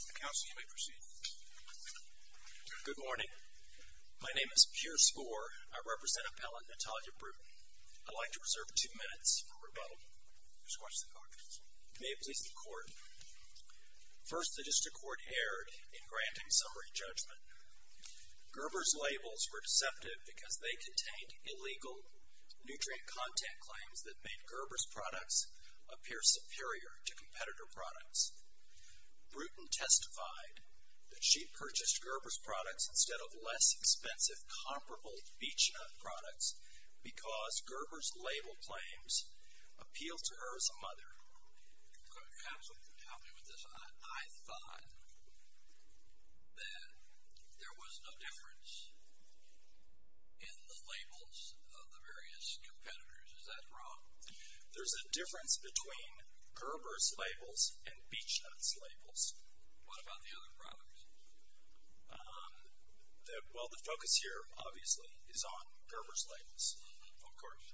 Counsel, you may proceed. Good morning. My name is Pierce Gore. I represent Appellant Natalia Bruton. I'd like to reserve two minutes for rebuttal. You may have placed the court. First, the District Court erred in granting summary judgment. Gerber's labels were deceptive because they contained illegal nutrient content claims that made Gerber's products appear superior to competitor products. Bruton testified that she purchased Gerber's products instead of less expensive, comparable Beechnut products because Gerber's label claims appealed to her as a mother. Counsel, you can help me with this. I thought that there was a difference in the labels of the various competitors. Is that wrong? There's a difference between Gerber's labels and Beechnut's labels. What about the other products? Well, the focus here, obviously, is on Gerber's labels, of course.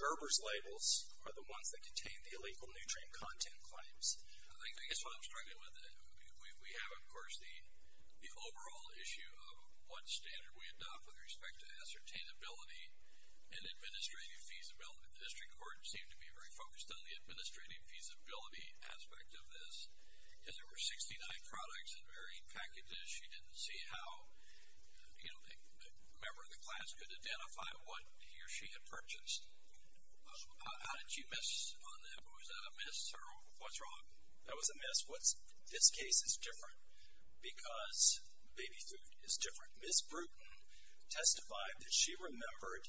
Gerber's labels are the ones that contain the illegal nutrient content claims. I guess what I'm struggling with, we have, of course, the overall issue of what standard we adopt with respect to ascertainability and administrative feasibility. The District Court seemed to be very focused on the administrative feasibility aspect of this. As there were 69 products in varying packages, she didn't see how a member of the class could identify what he or she had purchased. How did you miss on that? Was that a miss or what's wrong? That was a miss. This case is different because baby food is different. Ms. Brewton testified that she remembered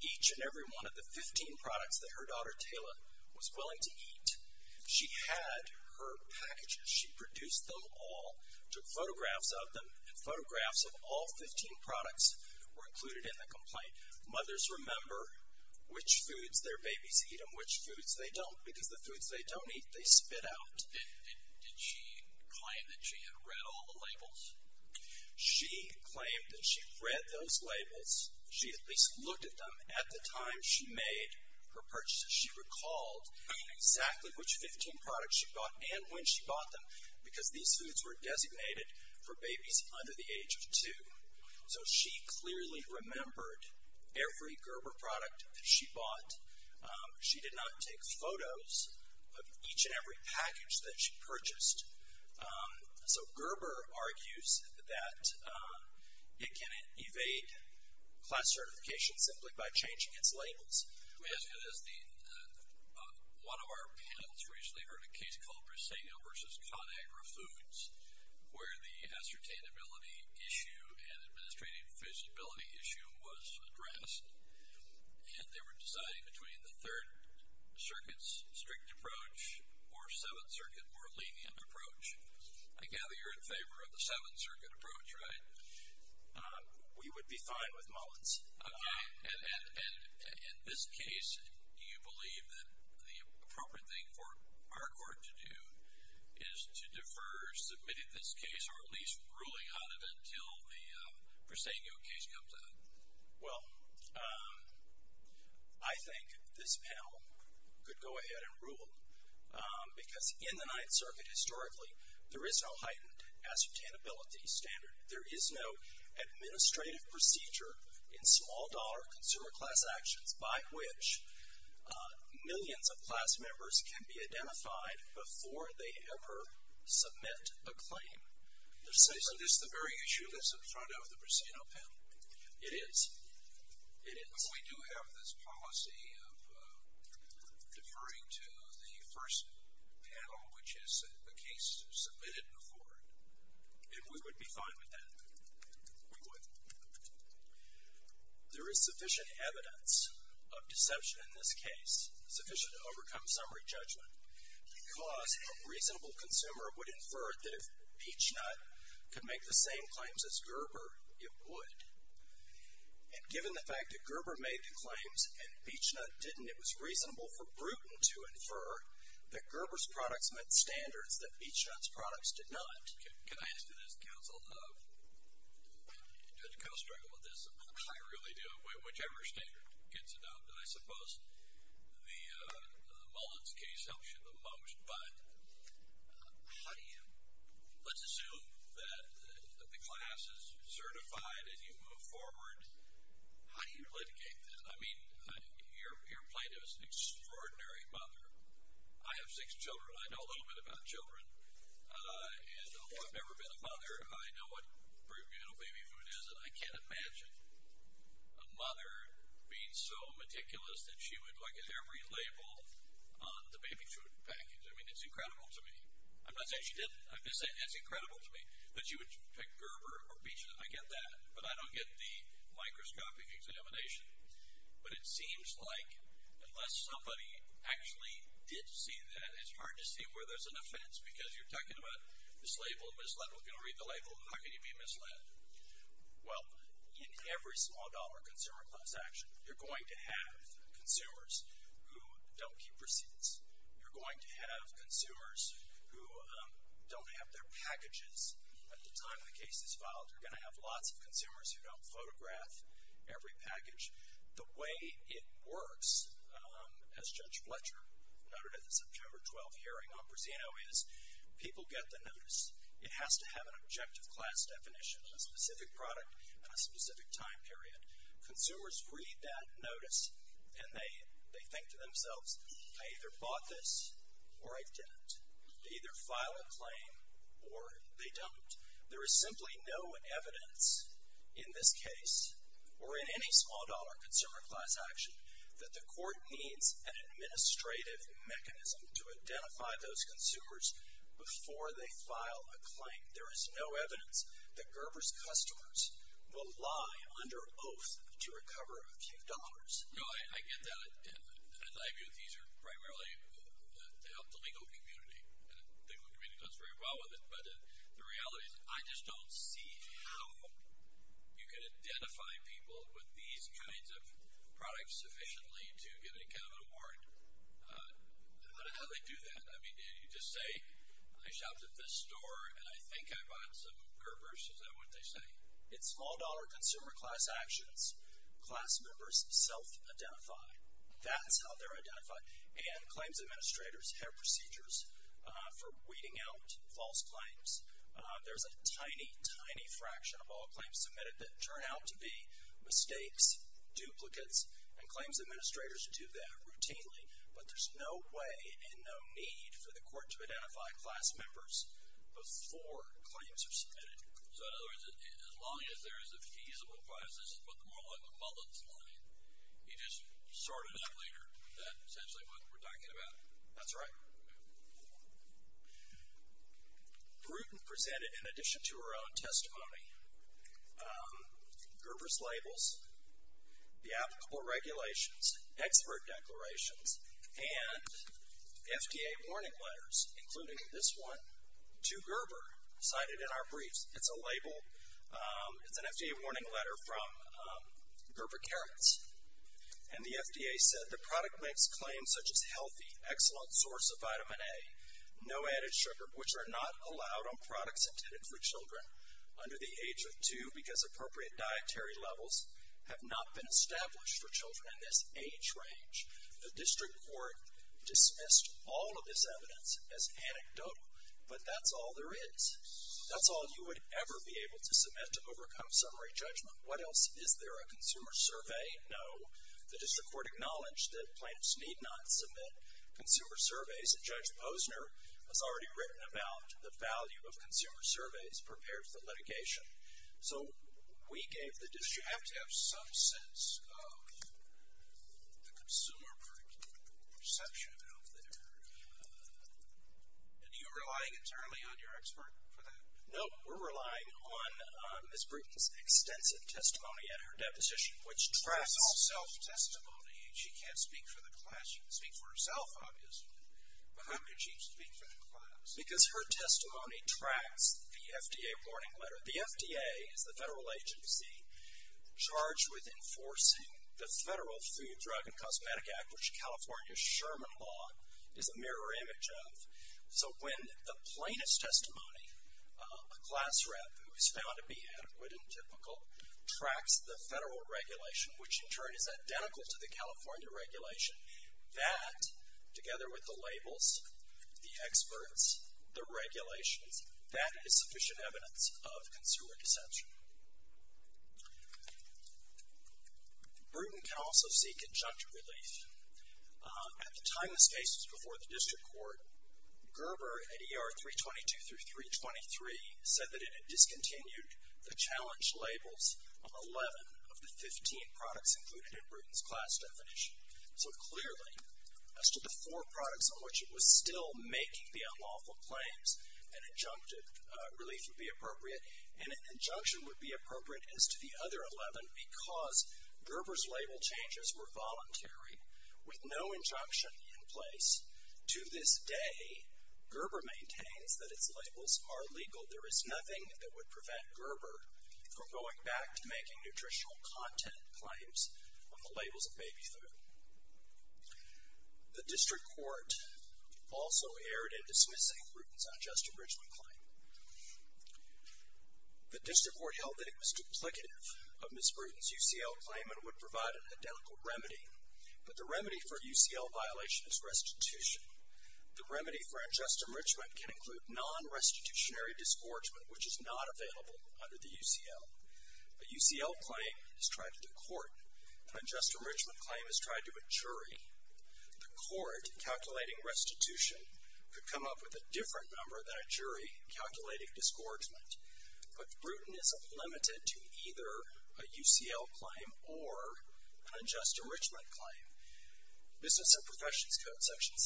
each and every one of the 15 products that her daughter, Tayla, was willing to eat. She had her packages. She produced them all, took photographs of them. Photographs of all 15 products were included in the complaint. Mothers remember which foods their babies eat and which foods they don't because the foods they don't eat, they spit out. Did she claim that she had read all the labels? She claimed that she read those labels. She at least looked at them at the time she made her purchase. She recalled exactly which 15 products she bought and when she bought them because these foods were designated for babies under the age of two. So she clearly remembered every Gerber product that she bought. She did not take photos of each and every package that she purchased. So Gerber argues that it can evade class certification simply by changing its labels. Let me ask you this, Dean. One of our panels recently heard a case called Briceño v. Conagra Foods where the ascertainability issue and administrative feasibility issue was addressed and they were deciding between the Third Circuit's strict approach or Seventh Circuit's more lenient approach. I gather you're in favor of the Seventh Circuit approach, right? We would be fine with Mullins. Okay. And in this case, do you believe that the appropriate thing for our court to do is to defer submitting this case or at least ruling on it until the Briceño case comes out? Well, I think this panel could go ahead and rule because in the Ninth Circuit historically, there is no heightened ascertainability standard. There is no administrative procedure in small-dollar consumer class actions by which millions of class members can be identified before they ever submit a claim. So this is the very issue that's in front of the Briceño panel. It is? It is. But we do have this policy of deferring to the first panel, which is a case submitted before. And we would be fine with that? We would. There is sufficient evidence of deception in this case, sufficient to overcome summary judgment, because a reasonable consumer would infer that if Peachnut could make the same claims as Gerber, it would. And given the fact that Gerber made the claims and Peachnut didn't, it was reasonable for Bruton to infer that Gerber's products met standards that Peachnut's products did not. Can I ask you this, counsel? Do you have to go struggle with this? I really do. Whichever standard gets adopted. I suppose the Mullins case helps you the most. But how do you? Let's assume that the class is certified and you move forward. How do you litigate this? I mean, your plaintiff is an extraordinary mother. I have six children. I know a little bit about children. And, oh, I've never been a mother. I know what prenatal baby food is, and I can't imagine a mother being so meticulous that she would, like, at every label on the baby food package. I mean, it's incredible to me. I'm not saying she didn't. I'm just saying it's incredible to me that she would pick Gerber or Peachnut. I get that. But I don't get the microscopic examination. But it seems like unless somebody actually did see that, it's hard to see where there's an offense because you're talking about mislabeled, misled. Well, if you don't read the label, how can you be misled? Well, in every small-dollar consumer class action, you're going to have consumers who don't keep receipts. You're going to have consumers who don't have their packages at the time the case is filed. You're going to have lots of consumers who don't photograph every package. The way it works, as Judge Fletcher noted at the September 12th hearing on Prisino, is people get the notice. It has to have an objective class definition, a specific product at a specific time period. Consumers read that notice and they think to themselves, I either bought this or I didn't. They either file a claim or they don't. There is simply no evidence in this case or in any small-dollar consumer class action that the court needs an administrative mechanism to identify those consumers before they file a claim. There is no evidence that Gerber's customers will lie under oath to recover a few dollars. No, I get that, and I agree with you. These are primarily to help the legal community, and the legal community does very well with it. But the reality is I just don't see how you can identify people with these kinds of products sufficiently to get a kind of an award. How do they do that? Did you just say, I shopped at this store and I think I bought some Gerber's? Is that what they say? In small-dollar consumer class actions, class members self-identify. That's how they're identified. And claims administrators have procedures for weeding out false claims. There's a tiny, tiny fraction of all claims submitted that turn out to be mistakes, duplicates, and claims administrators do that routinely. But there's no way and no need for the court to identify class members before claims are submitted. So in other words, as long as there is a feasible process, but the moral of the ball doesn't lie. You just sort it out later. That's essentially what we're talking about. That's right. Bruton presented, in addition to her own testimony, Gerber's labels, the applicable regulations, expert declarations, and FDA warning letters, including this one to Gerber, cited in our briefs. It's a label. It's an FDA warning letter from Gerber Carats. And the FDA said the product makes claims such as healthy, excellent source of vitamin A, no added sugar, which are not allowed on products intended for children under the age of two because appropriate dietary levels have not been established for children in this age range. The district court dismissed all of this evidence as anecdotal, but that's all there is. That's all you would ever be able to submit to overcome summary judgment. What else? Is there a consumer survey? No. The district court acknowledged that plaintiffs need not submit consumer surveys, and Judge Posner has already written about the value of consumer surveys prepared for litigation. So we gave the district. You have to have some sense of the consumer perception out there. And you're relying internally on your expert for that? No, we're relying on Ms. Bruton's extensive testimony at her deposition, which trusts. That's all self-testimony. She can't speak for the class. She can speak for herself, obviously, but how could she speak for the class? Because her testimony tracks the FDA warning letter. The FDA is the federal agency charged with enforcing the Federal Food, Drug, and Cosmetic Act, which California's Sherman law is a mirror image of. So when the plaintiff's testimony, a class rep who is found to be adequate and typical, tracks the federal regulation, which in turn is identical to the California regulation, that, together with the labels, the experts, the regulations, that is sufficient evidence of consumer deception. Bruton can also seek injunctive relief. At the time this case was before the district court, Gerber, at ER 322 through 323, said that it had discontinued the challenge labels on 11 of the 15 products included in Bruton's class definition. So clearly, as to the four products on which it was still making the unlawful claims, an injunctive relief would be appropriate, and an injunction would be appropriate as to the other 11 because Gerber's label changes were voluntary with no injunction in place. To this day, Gerber maintains that its labels are legal. There is nothing that would prevent Gerber from going back to making nutritional content claims on the labels of baby food. The district court also erred in dismissing Bruton's unjust enrichment claim. The district court held that it was duplicative of Ms. Bruton's UCL claim and would provide an identical remedy, but the remedy for UCL violation is restitution. The remedy for unjust enrichment can include non-restitutionary disgorgement, which is not available under the UCL. A UCL claim is tried to the court. An unjust enrichment claim is tried to a jury. The court, calculating restitution, could come up with a different number than a jury, calculating disgorgement. But Bruton is unlimited to either a UCL claim or an unjust enrichment claim. Business and professions code section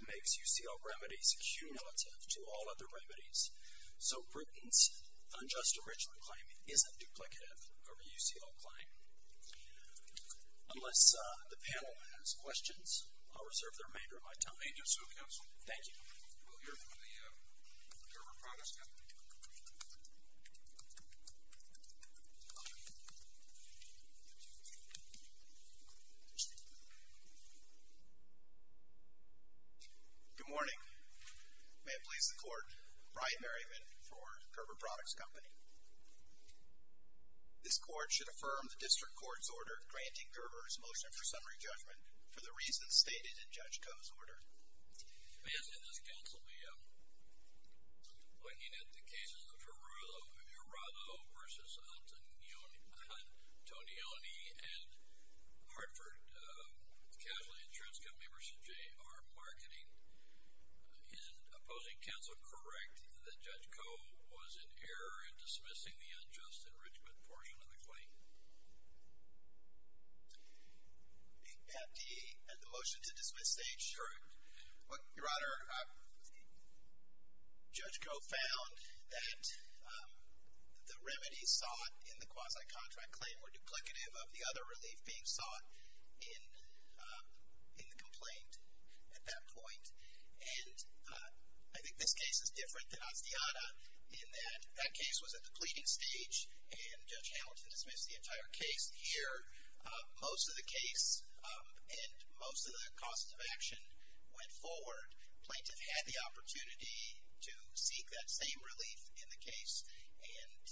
17205 makes UCL remedies cumulative to all other remedies. So Bruton's unjust enrichment claim isn't duplicative of a UCL claim. Unless the panel has questions, I'll reserve the remainder of my time. Thank you, Mr. Counsel. Thank you. We'll hear from the Gerber Products Company. Good morning. Good morning. May it please the court, Brian Berryman for Gerber Products Company. This court should affirm the district court's order granting Gerber's motion for summary judgment for the reasons stated in Judge Coe's order. May I say this, Counsel? We are looking at the cases of Verrado versus Antonioni and Hartford. The casualty insurance company versus J.R. Marketing. Is opposing counsel correct that Judge Coe was in error in dismissing the unjust enrichment portion of the claim? May I have the motion to dismiss the case? Sure. Your Honor, Judge Coe found that the remedies sought in the quasi-contract claim were duplicative of the other relief being sought in the complaint at that point. And I think this case is different than Astiata in that that case was at the pleading stage and Judge Hamilton dismissed the entire case. Here, most of the case and most of the costs of action went forward. Plaintiff had the opportunity to seek that same relief in the case and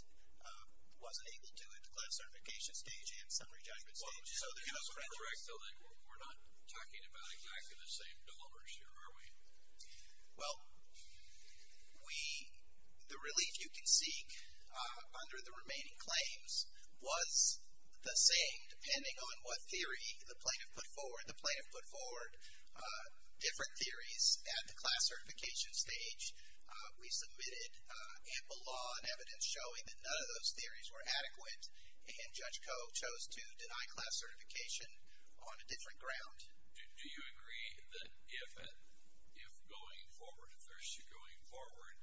wasn't able to at the class certification stage and summary judgment stage. So the counsel is correct, though, that we're not talking about exactly the same dollars here, are we? Well, the relief you can seek under the remaining claims was the same depending on what theory the plaintiff put forward. The plaintiff put forward different theories at the class certification stage. We submitted ample law and evidence showing that none of those theories were adequate, and Judge Coe chose to deny class certification on a different ground. Do you agree that if going forward, if there's going forward,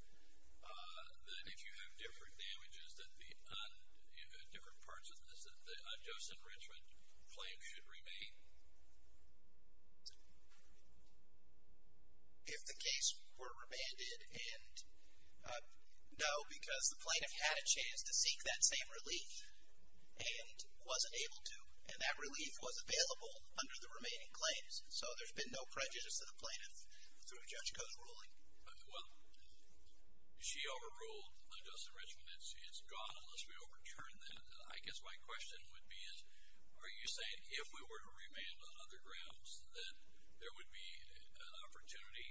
that if you have different damages on different parts of this, that the unjust enrichment claim should remain? If the case were remanded, and no, because the plaintiff had a chance to seek that same relief and wasn't able to, and that relief was available under the remaining claims. So there's been no prejudice to the plaintiff through Judge Coe's ruling. Well, she overruled the unjust enrichment. It's gone unless we overturn that. I guess my question would be, are you saying if we were to remand on other grounds, that there would be an opportunity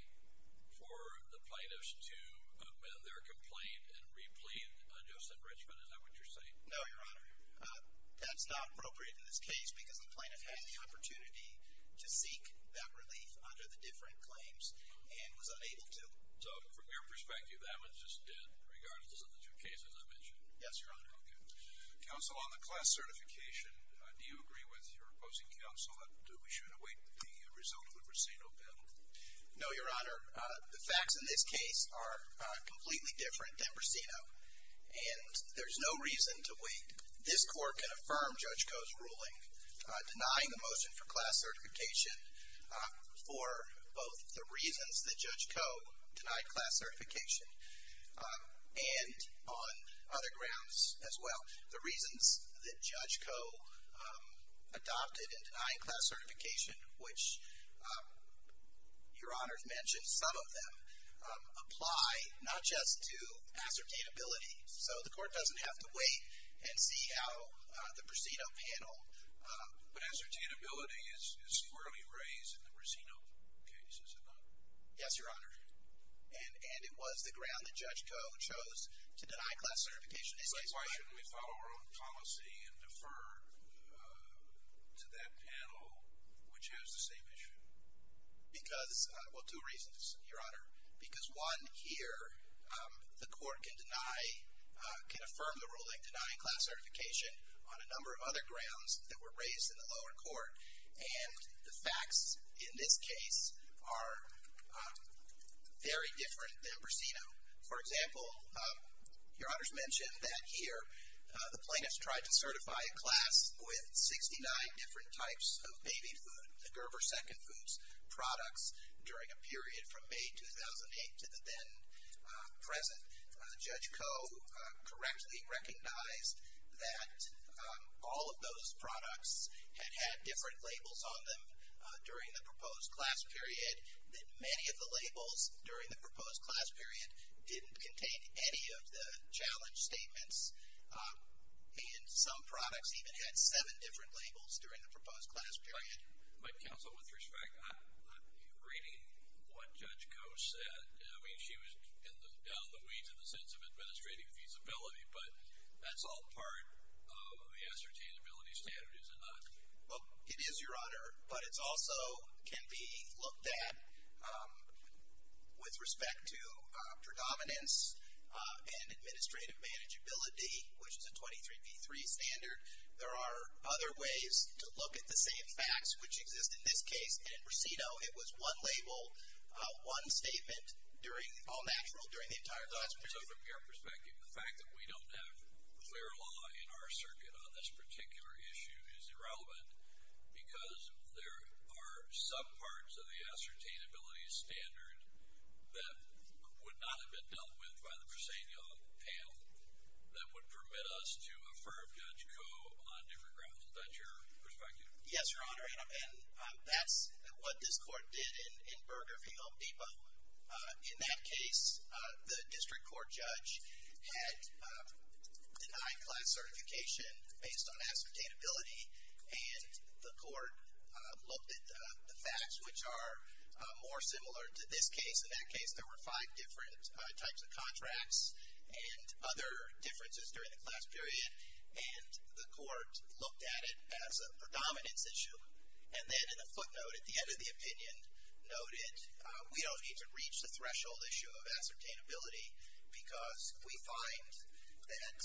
for the plaintiffs to amend their complaint and replete unjust enrichment? Is that what you're saying? No, Your Honor. That's not appropriate in this case because the plaintiff had the opportunity to seek that relief under the different claims and was unable to. So from your perspective, that was just dead regardless of the two cases I mentioned? Yes, Your Honor. Okay. Counsel, on the class certification, do you agree with your opposing counsel that we should await the result of the Bracino bill? No, Your Honor. The facts in this case are completely different than Bracino, and there's no reason to wait. This Court can affirm Judge Coe's ruling denying the motion for class certification for both the reasons that Judge Coe denied class certification and on other grounds as well. The reasons that Judge Coe adopted and denied class certification, which Your Honor has mentioned some of them, apply not just to ascertainability, so the Court doesn't have to wait and see how the Bracino panel. But ascertainability is squarely raised in the Bracino case, is it not? Yes, Your Honor. And it was the ground that Judge Coe chose to deny class certification in this case, right? But why shouldn't we follow our own policy and defer to that panel, which has the same issue? Because, well, two reasons, Your Honor. Because one, here, the Court can deny, can affirm the ruling denying class certification on a number of other grounds that were raised in the lower court, and the facts in this case are very different than Bracino. For example, Your Honor's mentioned that here the plaintiffs tried to certify a class with 69 different types of baby food, the Gerber Second Foods products, during a period from May 2008 to the then present. Judge Coe correctly recognized that all of those products had had different labels on them during the proposed class period, that many of the labels during the proposed class period didn't contain any of the challenge statements, and some products even had seven different labels during the proposed class period. But, counsel, with respect, I'm reading what Judge Coe said. I mean, she was down the weeds in the sense of administrative feasibility, but that's all part of the ascertainability standard, is it not? Well, it is, Your Honor, but it also can be looked at with respect to predominance and administrative manageability, which is a 23 v. 3 standard. There are other ways to look at the same facts which exist in this case, and in Bracino, it was one label, one statement, all natural during the entire class period. So, from your perspective, the fact that we don't have clear law in our circuit on this particular issue is irrelevant because there are some parts of the ascertainability standard that would not have been dealt with by the Bracino panel that would permit us to affirm Judge Coe on different grounds. Is that your perspective? Yes, Your Honor, and that's what this court did in Burgerfield Depot. In that case, the district court judge had denied class certification based on ascertainability, and the court looked at the facts, which are more similar to this case. In that case, there were five different types of contracts and other differences during the class period, and the court looked at it as a predominance issue, and then in a footnote at the end of the opinion noted we don't need to reach the threshold issue of ascertainability because we find that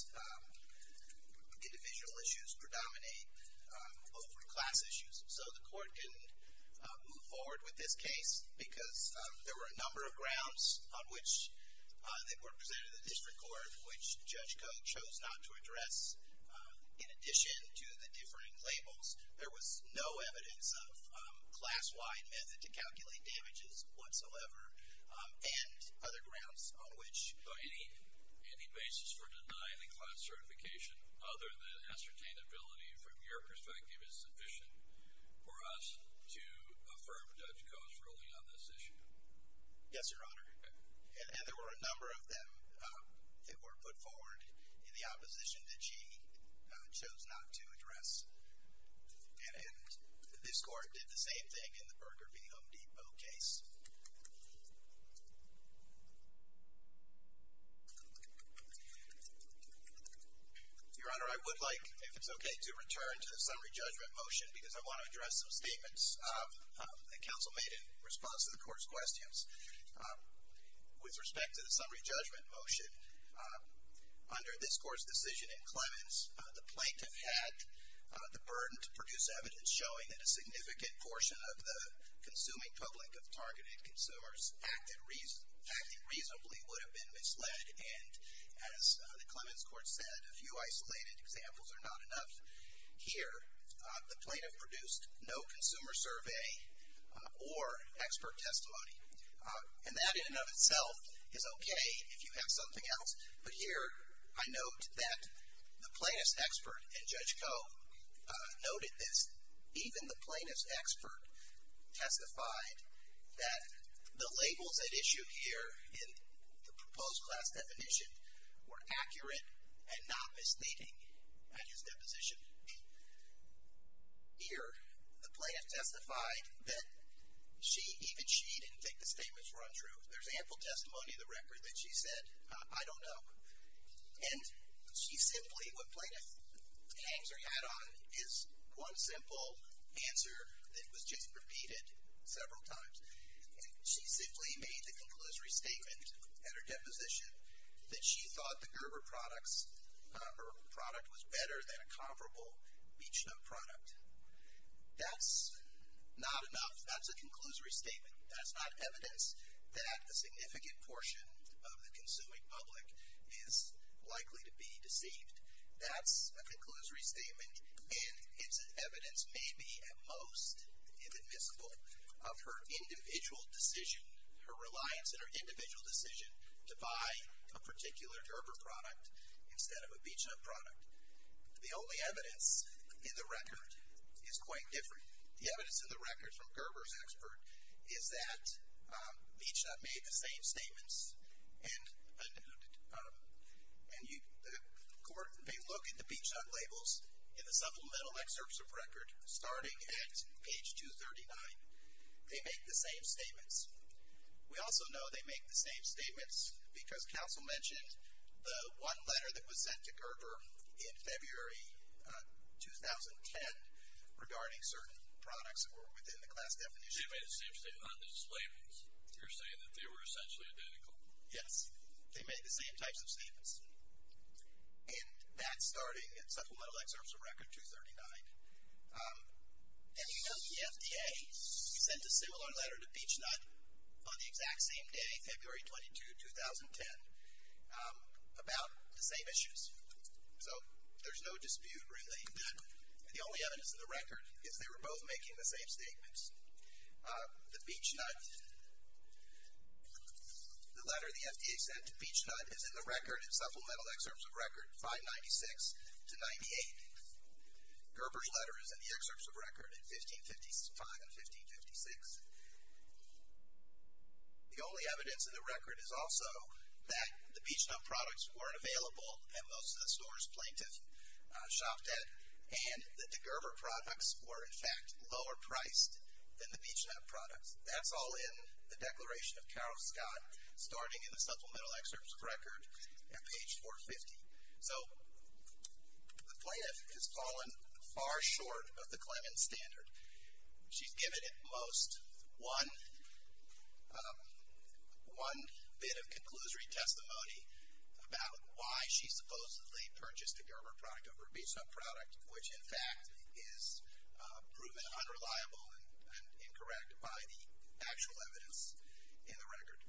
individual issues predominate over class issues. So, the court didn't move forward with this case because there were a number of grounds on which the court presented to the district court which Judge Coe chose not to address. In addition to the differing labels, there was no evidence of class-wide method to calculate damages whatsoever and other grounds on which any basis for denying the class certification other than ascertainability from your perspective is sufficient for us to affirm Judge Coe's ruling on this issue. Yes, Your Honor, and there were a number of them that were put forward in the opposition that she chose not to address, and this court did the same thing in the Berger v. Home Depot case. Your Honor, I would like, if it's okay, to return to the summary judgment motion because I want to address some statements that counsel made in response to the court's questions. With respect to the summary judgment motion, under this court's decision in Clemens, the plaintiff had the burden to produce evidence showing that a significant portion of the consuming public of targeted consumers acting reasonably would have been misled, and as the Clemens court said, a few isolated examples are not enough. Here, the plaintiff produced no consumer survey or expert testimony, and that in and of itself is okay if you have something else, but here I note that the plaintiff's expert and Judge Coe noted this. Even the plaintiff's expert testified that the labels they'd issued here in the proposed class definition were accurate and not misleading in his deposition. Here, the plaintiff testified that even she didn't think the statements were untrue. There's ample testimony in the record that she said, I don't know. And she simply, what plaintiff hangs her hat on is one simple answer that was just repeated several times, and she simply made the conclusory statement at her deposition that she thought the Gerber products, her product was better than a comparable Beechnut product. That's not enough. In fact, a significant portion of the consuming public is likely to be deceived. That's a conclusory statement, and its evidence may be at most inadmissible of her individual decision, her reliance on her individual decision to buy a particular Gerber product instead of a Beechnut product. The only evidence in the record is quite different. The evidence in the record from Gerber's expert is that Beechnut made the same statements and they look at the Beechnut labels in the supplemental excerpts of record starting at page 239. They make the same statements. We also know they make the same statements because counsel mentioned the one letter that was sent to Gerber in February 2010 regarding certain products that were within the class definition. They made the same statements on the labels. You're saying that they were essentially identical. Yes. They made the same types of statements. And that's starting at supplemental excerpts of record 239. And we know the FDA sent a similar letter to Beechnut on the exact same day, February 22, 2010, about the same issues. So there's no dispute really that the only evidence in the record is they were both making the same statements. The Beechnut, the letter the FDA sent to Beechnut is in the record in supplemental excerpts of record 596 to 98. Gerber's letter is in the excerpts of record in 1555 and 1556. The only evidence in the record is also that the Beechnut products weren't available at most of the stores Plaintiff shopped at and that the Gerber products were, in fact, lower priced than the Beechnut products. That's all in the declaration of Carol Scott starting in the supplemental excerpts of record at page 450. So the Plaintiff has fallen far short of the Clemmons standard. She's given at most one bit of conclusory testimony about why she supposedly purchased a Gerber product over a Beechnut product, which, in fact, is proven unreliable and incorrect by the actual evidence in the record.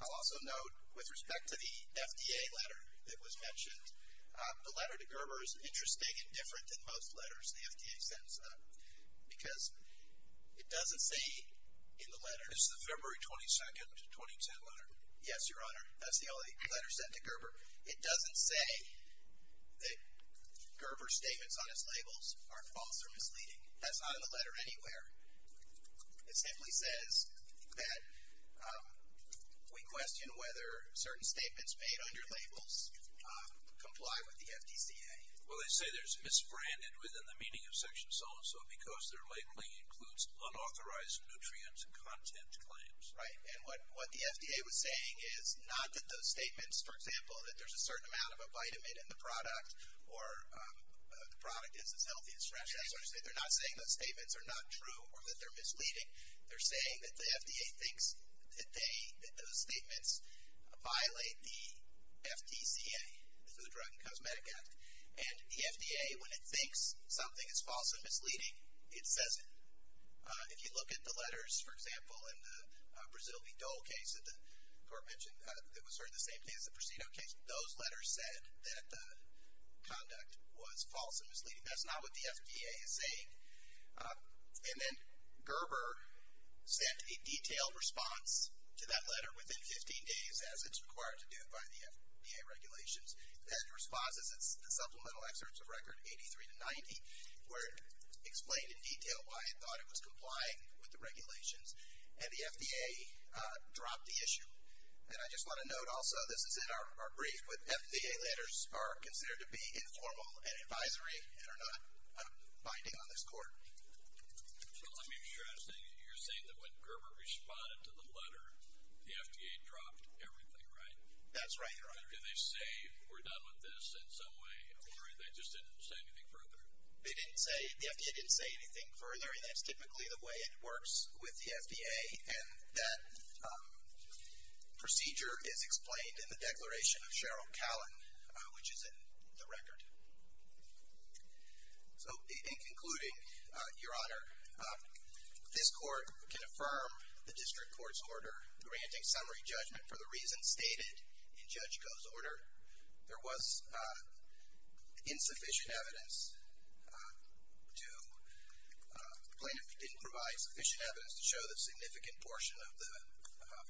I'll also note, with respect to the FDA letter that was mentioned, the letter to Gerber is interesting and different than most letters the FDA sends out because it doesn't say in the letter. This is the February 22, 2010 letter. Yes, Your Honor. That's the only letter sent to Gerber. It doesn't say that Gerber's statements on his labels are false or misleading. That's not in the letter anywhere. It simply says that we question whether certain statements made under labels comply with the FDCA. Well, they say there's misbranded within the meaning of section so-and-so because their labeling includes unauthorized nutrient content claims. Right, and what the FDA was saying is not that those statements, for example, that there's a certain amount of a vitamin in the product or the product is as healthy as fresh. They're not saying those statements are not true or that they're misleading. They're saying that the FDA thinks that those statements violate the FDCA, the Drug and Cosmetic Act. And the FDA, when it thinks something is false and misleading, it says it. If you look at the letters, for example, in the Brazil V. Dole case that the Court mentioned, it was sort of the same thing as the Prostino case. Those letters said that the conduct was false and misleading. That's not what the FDA is saying. And then Gerber sent a detailed response to that letter within 15 days, as it's required to do by the FDA regulations, and responses and supplemental excerpts of record 83 to 90 where it explained in detail why it thought it was complying with the regulations, and the FDA dropped the issue. And I just want to note also, this is in our brief, FDA letters are considered to be informal and advisory and are not binding on this Court. Well, let me stress that you're saying that when Gerber responded to the letter, the FDA dropped everything, right? That's right, Your Honor. Did they say, we're done with this in some way, or they just didn't say anything further? They didn't say, the FDA didn't say anything further, and that's typically the way it works with the FDA. And that procedure is explained in the Declaration of Cheryl Callan, which is in the record. So, in concluding, Your Honor, this Court can affirm the District Court's order granting summary judgment for the reasons stated in Judge Goh's order. There was insufficient evidence to, plaintiff didn't provide sufficient evidence to show the significant portion of the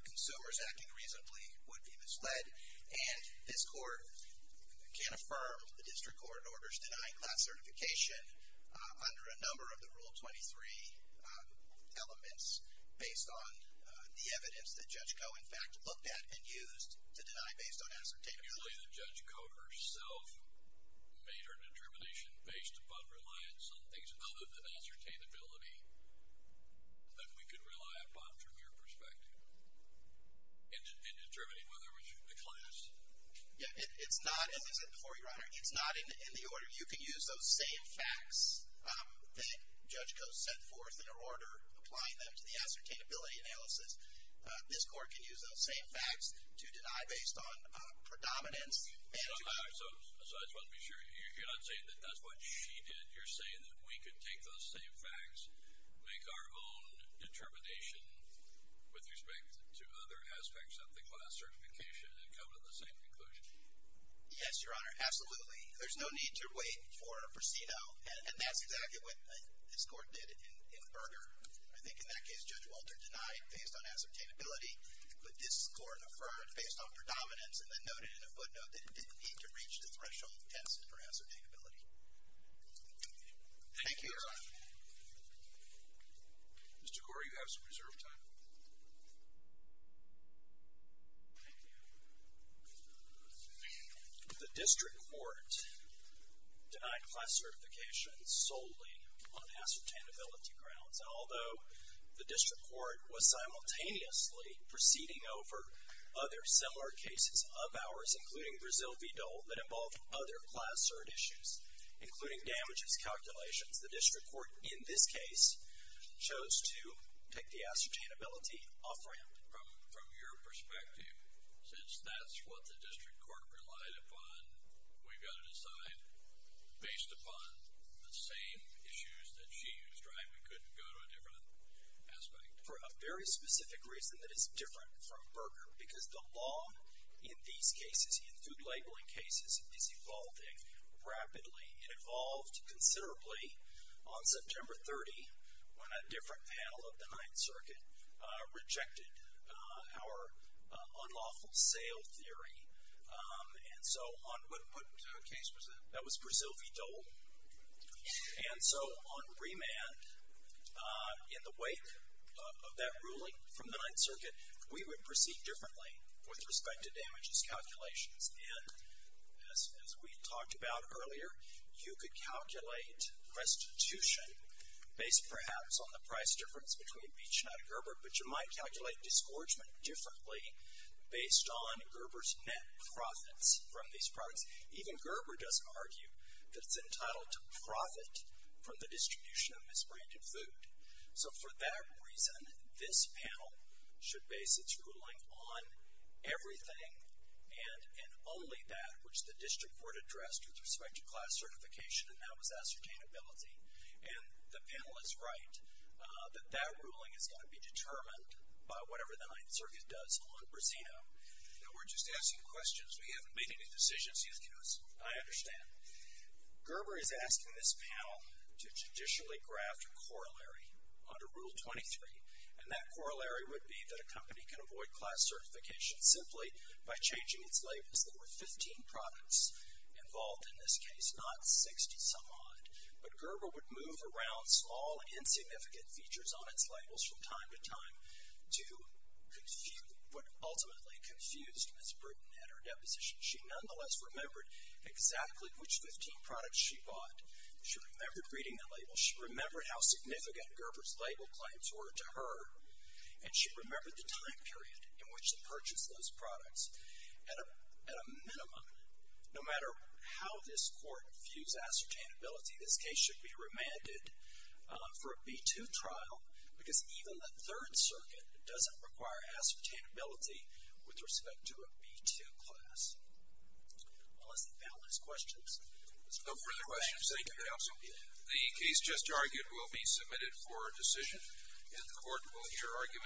consumers acting reasonably would be misled. And this Court can affirm the District Court orders denying that certification under a number of the Rule 23 elements based on the evidence that Judge Goh, in fact, looked at and used to deny based on ascertainment. Usually the Judge Goh herself made her determination based upon reliance on things other than ascertainability that we could rely upon from your perspective in determining whether we should declassify. Yeah, it's not, as I said before, Your Honor, it's not in the order. You can use those same facts that Judge Goh set forth in her order, applying them to the ascertainability analysis. This Court can use those same facts to deny based on predominance. So, I just want to be sure, you're not saying that that's what she did. You're saying that we could take those same facts, make our own determination with respect to other aspects of the class certification and come to the same conclusion. Yes, Your Honor, absolutely. There's no need to wait for a prosceno, and that's exactly what this Court did in Berger. I think in that case, Judge Walter denied based on ascertainability, but this Court affirmed based on predominance and then noted in a footnote that it didn't need to reach the threshold of tension for ascertainability. Thank you, Your Honor. Mr. Gore, you have some reserve time. Thank you. The District Court denied class certification solely on ascertainability grounds. And although the District Court was simultaneously proceeding over other similar cases of ours, including Brazil v. Dole, that involved other class cert issues, including damages calculations, the District Court in this case chose to take the ascertainability off-ramp. From your perspective, since that's what the District Court relied upon, we've got to decide based upon the same issues that she used, right? We couldn't go to a different aspect. For a very specific reason that is different from Berger, because the law in these cases, in food labeling cases, is evolving rapidly. It evolved considerably on September 30, when a different panel of the Ninth Circuit rejected our unlawful sale theory. And so on what case was that? That was Brazil v. Dole. And so on remand, in the wake of that ruling from the Ninth Circuit, we would proceed differently with respect to damages calculations. And as we talked about earlier, you could calculate restitution, based perhaps on the price difference between Beach and Atta Gerber, but you might calculate disgorgement differently based on Gerber's net profits from these products. Even Gerber doesn't argue that it's entitled to profit from the distribution of misbranded food. So for that reason, this panel should base its ruling on everything and only that which the District Court addressed with respect to class certification, and that was ascertainability. And the panel is right that that ruling is going to be determined by whatever the Ninth Circuit does on Brazino. Now, we're just asking questions. We haven't made any decisions yet, because I understand. Gerber is asking this panel to traditionally graft a corollary under Rule 23, and that corollary would be that a company can avoid class certification simply by changing its labels. There were 15 products involved in this case, not 60-some odd. But Gerber would move around small, insignificant features on its labels from time to time to what ultimately confused Ms. Britton at her deposition. She nonetheless remembered exactly which 15 products she bought. She remembered reading the labels. She remembered how significant Gerber's label claims were to her, and she remembered the time period in which they purchased those products at a minimum. No matter how this Court views ascertainability, this case should be remanded for a B-2 trial, because even the Third Circuit doesn't require ascertainability with respect to a B-2 class. Unless the panel has questions. No further questions. Thank you, Counsel. The case just argued will be submitted for a decision, and the Court will hear arguments.